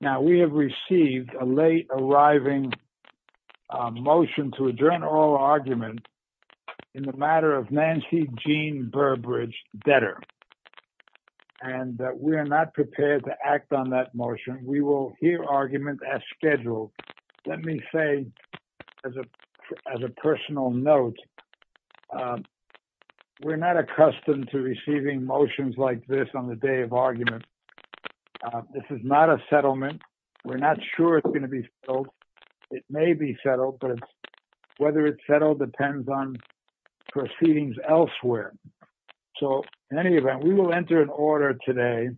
Now, we have received a late arriving motion to adjourn oral argument in the matter of Nancy Jean Burbridge, debtor, and we are not prepared to act on that motion. We will hear argument as scheduled. Let me say as a personal note, we're not accustomed to receiving motions like this on the day of argument. This is not a settlement. We're not sure it's going to be settled. It may be settled, but whether it's settled depends on proceedings elsewhere. So in any event, we will enter an order today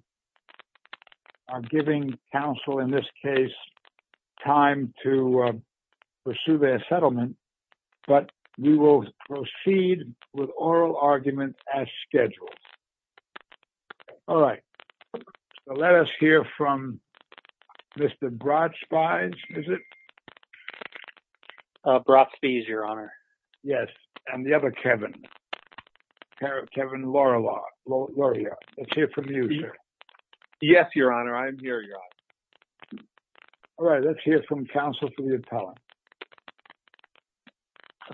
on giving counsel in this case time to pursue their settlement, but we will proceed with oral argument as scheduled. All right. Let us hear from Mr. Brott-Spies, is it? Brott-Spies, Your Honor. Yes. And the other Kevin, Kevin Laurier. Let's hear from you, sir. Yes, Your Honor. I'm here, Your Honor. All right. Let's hear from counsel for the appellant.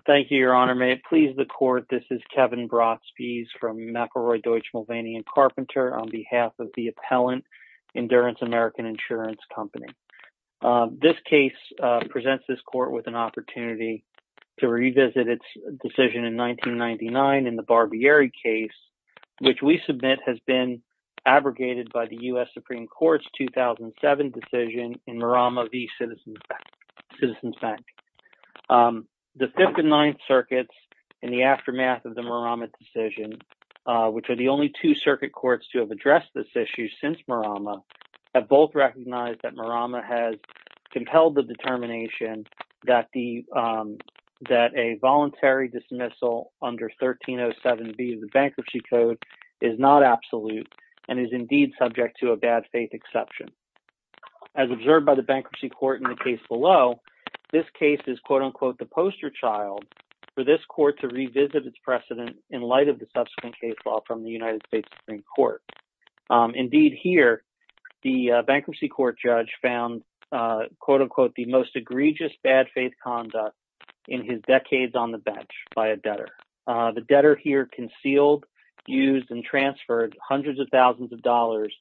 Thank you, Your Honor. May it please the court, this is Kevin Brott-Spies from McElroy, Deutsch, Mulvaney & Carpenter on behalf of the appellant, Endurance American Insurance Company. This case presents this court with an opportunity to revisit its decision in 1999 in the Barbieri case, which we submit has been abrogated by the U.S. Supreme Court's 2007 decision in Marama v. Citizens Bank. The Fifth and Ninth Circuits in the aftermath of the Marama decision, which are the only two circuit courts to have addressed this issue since Marama, have both recognized that Marama has compelled the determination that a voluntary dismissal under 1307B of the Bankruptcy Code is not absolute and is indeed subject to a bad faith exception. As observed by the Bankruptcy Court in the case below, this case is, quote-unquote, the poster child for this court to revisit its precedent in light of the subsequent case law from the United States Supreme Court. Indeed, here, the Bankruptcy Court judge found, quote-unquote, the most egregious bad faith conduct in his decades on the bench by a debtor. The debtor here concealed, used, and transferred hundreds of thousands of dollars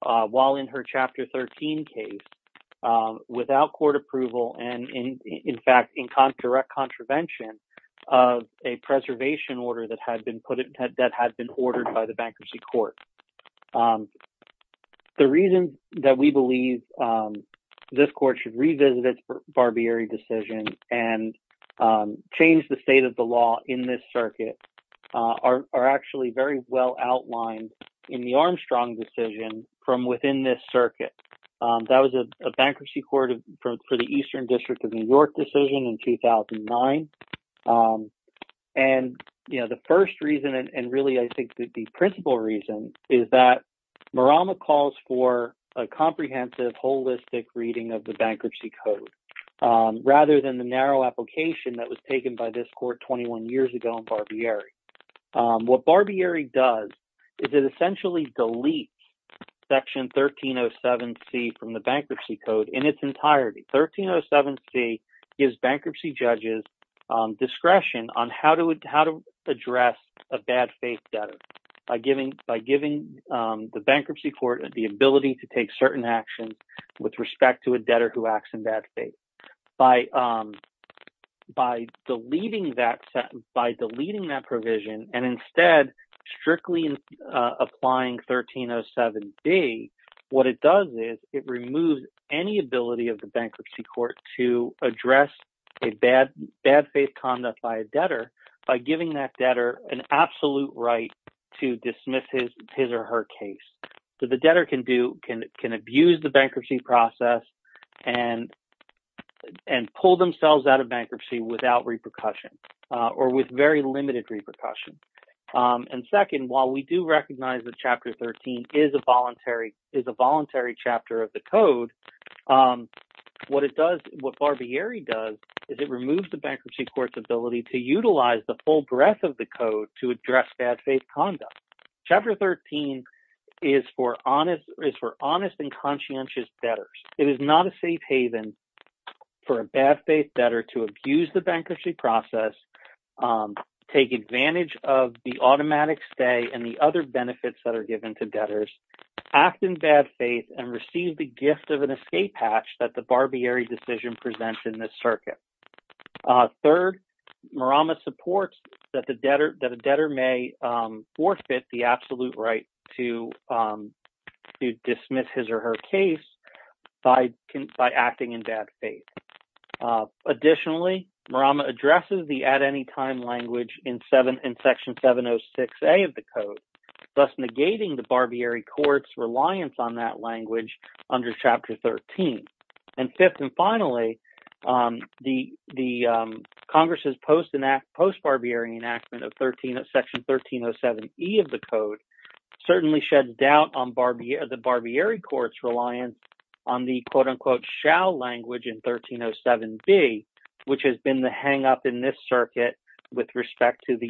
while in her Chapter 13 case without court approval and, in fact, in direct contravention of a preservation order that had been ordered by the Bankruptcy Court. The reasons that we believe this court should revisit its Barbieri decision and change the state of the law in this circuit are actually very well outlined in the Armstrong decision from within this circuit. That was a Bankruptcy Court for the Eastern District of New York decision in 2009. And, you know, the first reason and really, I think, the principal reason is that Marama calls for a comprehensive, holistic reading of the Bankruptcy Code rather than the narrow application that was taken by this court 21 years ago on Barbieri. What Barbieri does is it essentially deletes Section 1307C from the Bankruptcy Code in its entirety. 1307C gives bankruptcy judges discretion on how to address a bad faith debtor by giving the Bankruptcy Court the ability to take certain actions with respect to a debtor who acts in bad faith. By deleting that provision and, instead, strictly applying 1307B, what it does is it removes any ability of the Bankruptcy Court to address a bad faith conduct by a debtor by giving that debtor an absolute right to dismiss his or her case. So the debtor can abuse the bankruptcy process and pull themselves out of bankruptcy without repercussion or with very limited repercussion. And second, while we do recognize that Chapter 13 is a voluntary chapter of the Code, what it does, what Barbieri does, is it removes the Bankruptcy Court's ability to utilize the full breadth of the Code to address bad faith conduct. Chapter 13 is for honest and conscientious debtors. It is not a safe haven for a bad faith debtor to abuse the bankruptcy process, take advantage of the automatic stay and the other benefits that are given to debtors, act in bad faith, and receive the gift of an escape hatch that the Barbieri decision presents in this circuit. Third, Marama supports that a debtor may forfeit the absolute right to dismiss his or her case by acting in bad faith. Additionally, Marama addresses the at-any-time language in Section 706A of the Code, thus negating the Barbieri Court's reliance on that language under Chapter 13. And fifth and finally, the Congress's post-Barbieri enactment of Section 1307E of the Code certainly sheds doubt on the Barbieri Court's reliance on the quote-unquote shall language in 1307B, which has been the hang-up in this circuit with respect to the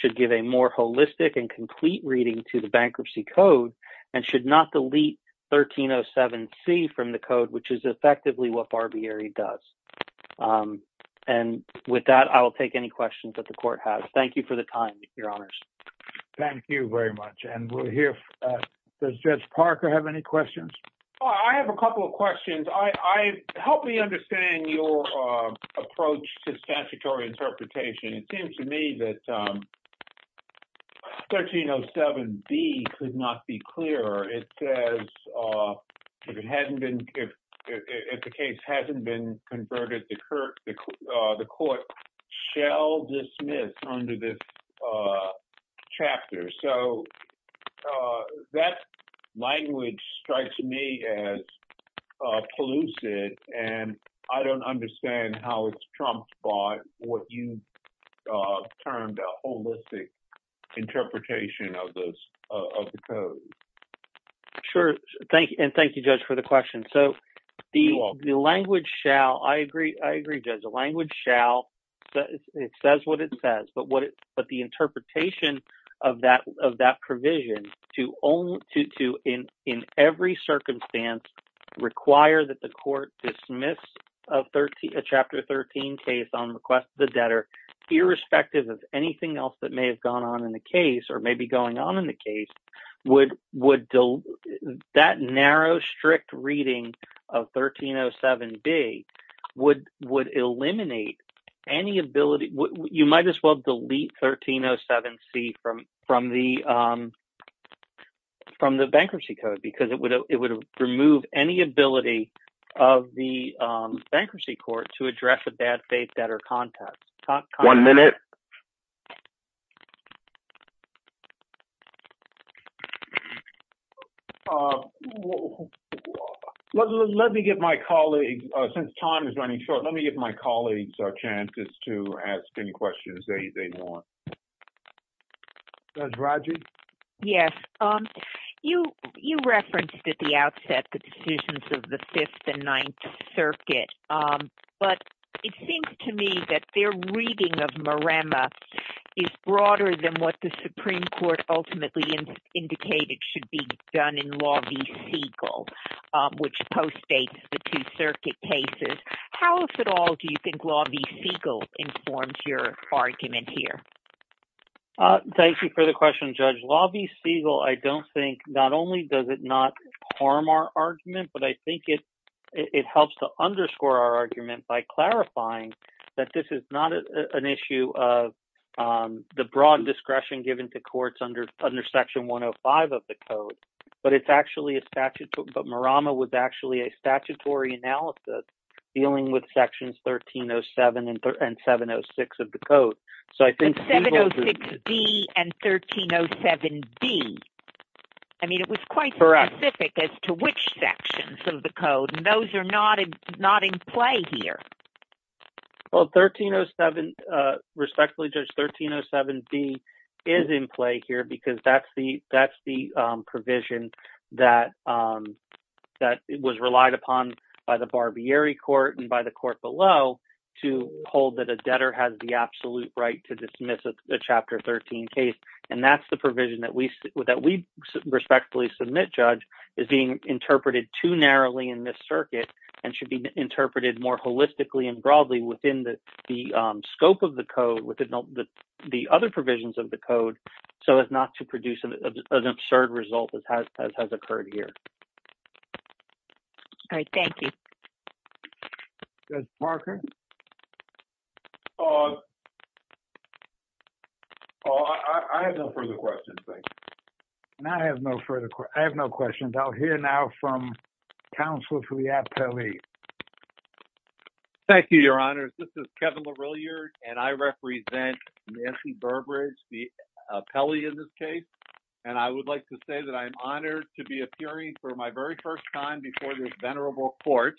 should give a more holistic and complete reading to the Bankruptcy Code and should not delete 1307C from the Code, which is effectively what Barbieri does. And with that, I will take any questions that the Court has. Thank you for the time, Your Honors. Thank you very much. And we'll understand your approach to statutory interpretation. It seems to me that 1307B could not be clearer. It says, if the case hasn't been converted, the Court shall dismiss under this chapter. So, that language strikes me as elusive, and I don't understand how it's trumped by what you termed a holistic interpretation of the Code. Sure. And thank you, Judge, for the question. So, the language shall, I agree, Judge, the language shall, it says what it says, but the interpretation of that provision to, in every circumstance, require that the Court dismiss a Chapter 13 case on request of the debtor, irrespective of anything else that may have been going on in the case. That narrow, strict reading of 1307B would eliminate any ability, you might as well delete 1307C from the Bankruptcy Code, because it would remove any ability of the Bankruptcy Court to address a bad faith debtor context. One minute. Let me give my colleagues, since time is running short, let me give my colleagues a chance just to ask any questions they want. Judge Rodgers? Yes. You referenced at the outset the decisions of the Fifth and Ninth Circuit, but it seems to me that their reading of Maremma is broader than what the Supreme Court ultimately indicated should be done in Law v. Segal, which postdates the Two Circuit cases. How, if at all, do you think Law v. Segal informs your argument here? Thank you for the question, Judge. Law v. Segal, I don't think, not only does it not harm our argument, but I think it helps to underscore our argument by clarifying that this is not an issue of the broad discretion given to courts under Section 105 of the Code, but it's actually a statute, but Maremma was actually a statutory analysis dealing with Sections 1307 and 706 of the Code. And 706B and 1307B. I mean, it was quite specific as to which sections of the Code, and those are not in play here. Well, 1307, respectfully, Judge, 1307B is in play here because that's the provision that was relied upon by the Barbieri Court and by the court below to hold that a debtor has the absolute right to dismiss a Chapter 13 case, and that's the provision that we respectfully submit, Judge, is being interpreted too narrowly in this circuit and should be interpreted more holistically and broadly within the scope of the Code, within the other provisions of the Code, so as not to produce an absurd result as has occurred here. All right, thank you. Judge Barker? Uh, I have no further questions, thank you. I have no further questions. I'll hear now from Counselor Filiatt-Pelley. Thank you, Your Honors. This is Kevin LaRilliere, and I represent Nancy Burbridge, the appellee in this case, and I would like to say that I am honored to be appearing for my very first time before this venerable Court,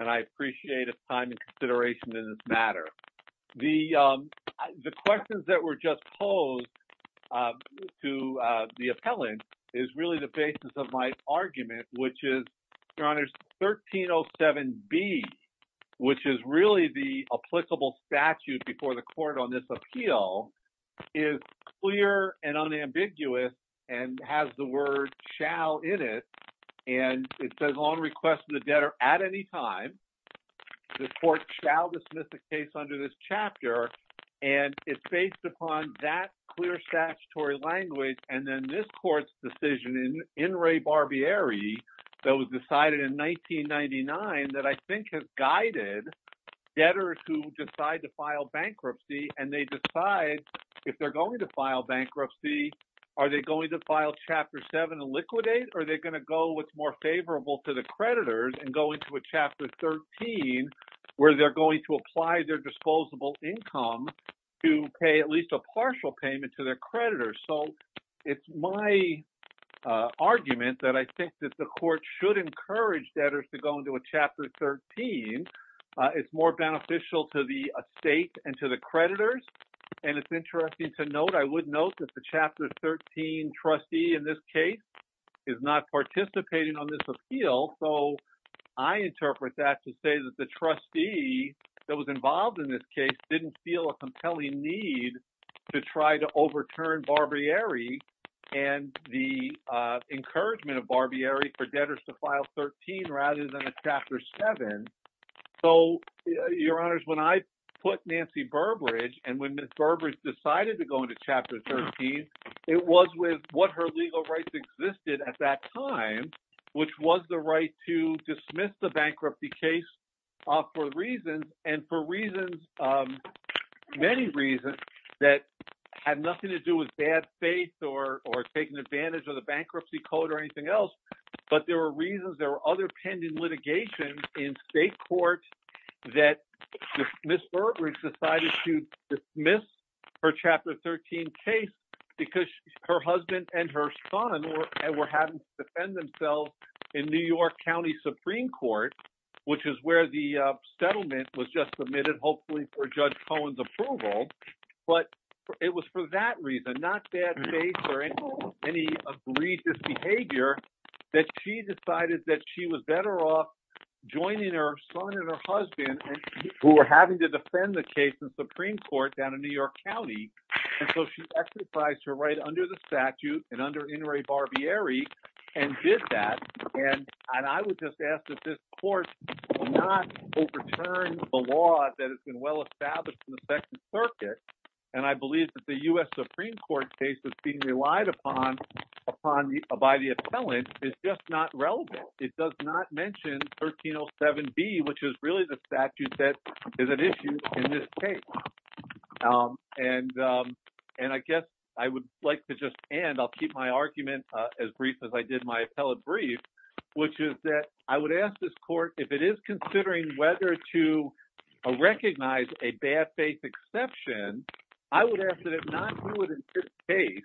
and I appreciate the time and consideration in this matter. The questions that were just posed to the appellant is really the basis of my argument, which is, Your Honors, 1307B, which is really the applicable statute before the Court on this is clear and unambiguous and has the word shall in it, and it says, on request of the debtor at any time, the Court shall dismiss the case under this chapter, and it's based upon that clear statutory language, and then this Court's decision in in re barbieri that was decided in 1999 that I if they're going to file bankruptcy, are they going to file Chapter 7 and liquidate, or are they going to go what's more favorable to the creditors and go into a Chapter 13 where they're going to apply their disposable income to pay at least a partial payment to their creditors? So it's my argument that I think that the Court should encourage debtors to go into a Chapter 13. It's more beneficial to the estate and to the creditors, and it's interesting to note, I would note that the Chapter 13 trustee in this case is not participating on this appeal, so I interpret that to say that the trustee that was involved in this case didn't feel a compelling need to try to overturn barbieri and the encouragement of barbieri for debtors to file 13 rather than a bankruptcy. So your honors, when I put Nancy Burbridge, and when Ms. Burbridge decided to go into Chapter 13, it was with what her legal rights existed at that time, which was the right to dismiss the bankruptcy case for reasons, and for reasons, many reasons that had nothing to do with bad faith or taking advantage of the bankruptcy code or anything else, but there were other pending litigations in state courts that Ms. Burbridge decided to dismiss her Chapter 13 case because her husband and her son were having to defend themselves in New York County Supreme Court, which is where the settlement was just submitted, hopefully for Judge Cohen's that reason, not bad faith or any egregious behavior, that she decided that she was better off joining her son and her husband, who were having to defend the case in Supreme Court down in New York County, and so she exercised her right under the statute and under Inouye Barbieri and did that, and I would just ask that this court not overturn the law that has been well Supreme Court cases being relied upon by the appellant is just not relevant. It does not mention 1307B, which is really the statute that is at issue in this case, and I guess I would like to just end, I'll keep my argument as brief as I did my appellate brief, which is that I would ask this court if it is considering whether to recognize a bad faith exception, I would ask that not do it in this case,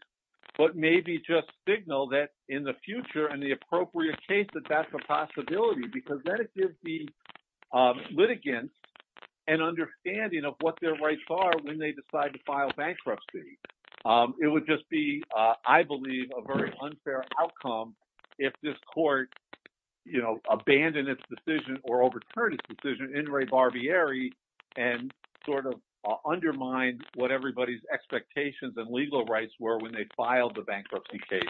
but maybe just signal that in the future and the appropriate case that that's a possibility because then it gives the litigants an understanding of what their rights are when they decide to file bankruptcy. It would just be, I believe, a very unfair outcome if this court, you know, abandoned its decision or overturned its decision in Inouye Barbieri and sort of undermined what everybody's expectations and legal rights were when they filed the bankruptcy case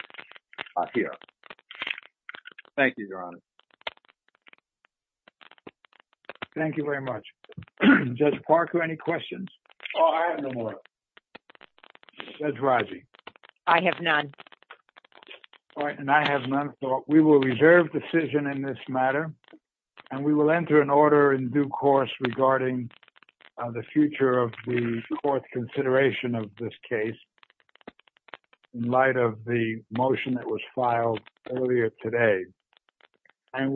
here. Thank you, Your Honor. Thank you very much. Judge Parker, any questions? Oh, I have no more. Judge Raji? I have none. All right, and I have none, so we will reserve decision in this matter, and we will enter an order in due course regarding the future of the court's consideration of this case in light of the motion that was filed earlier today, and we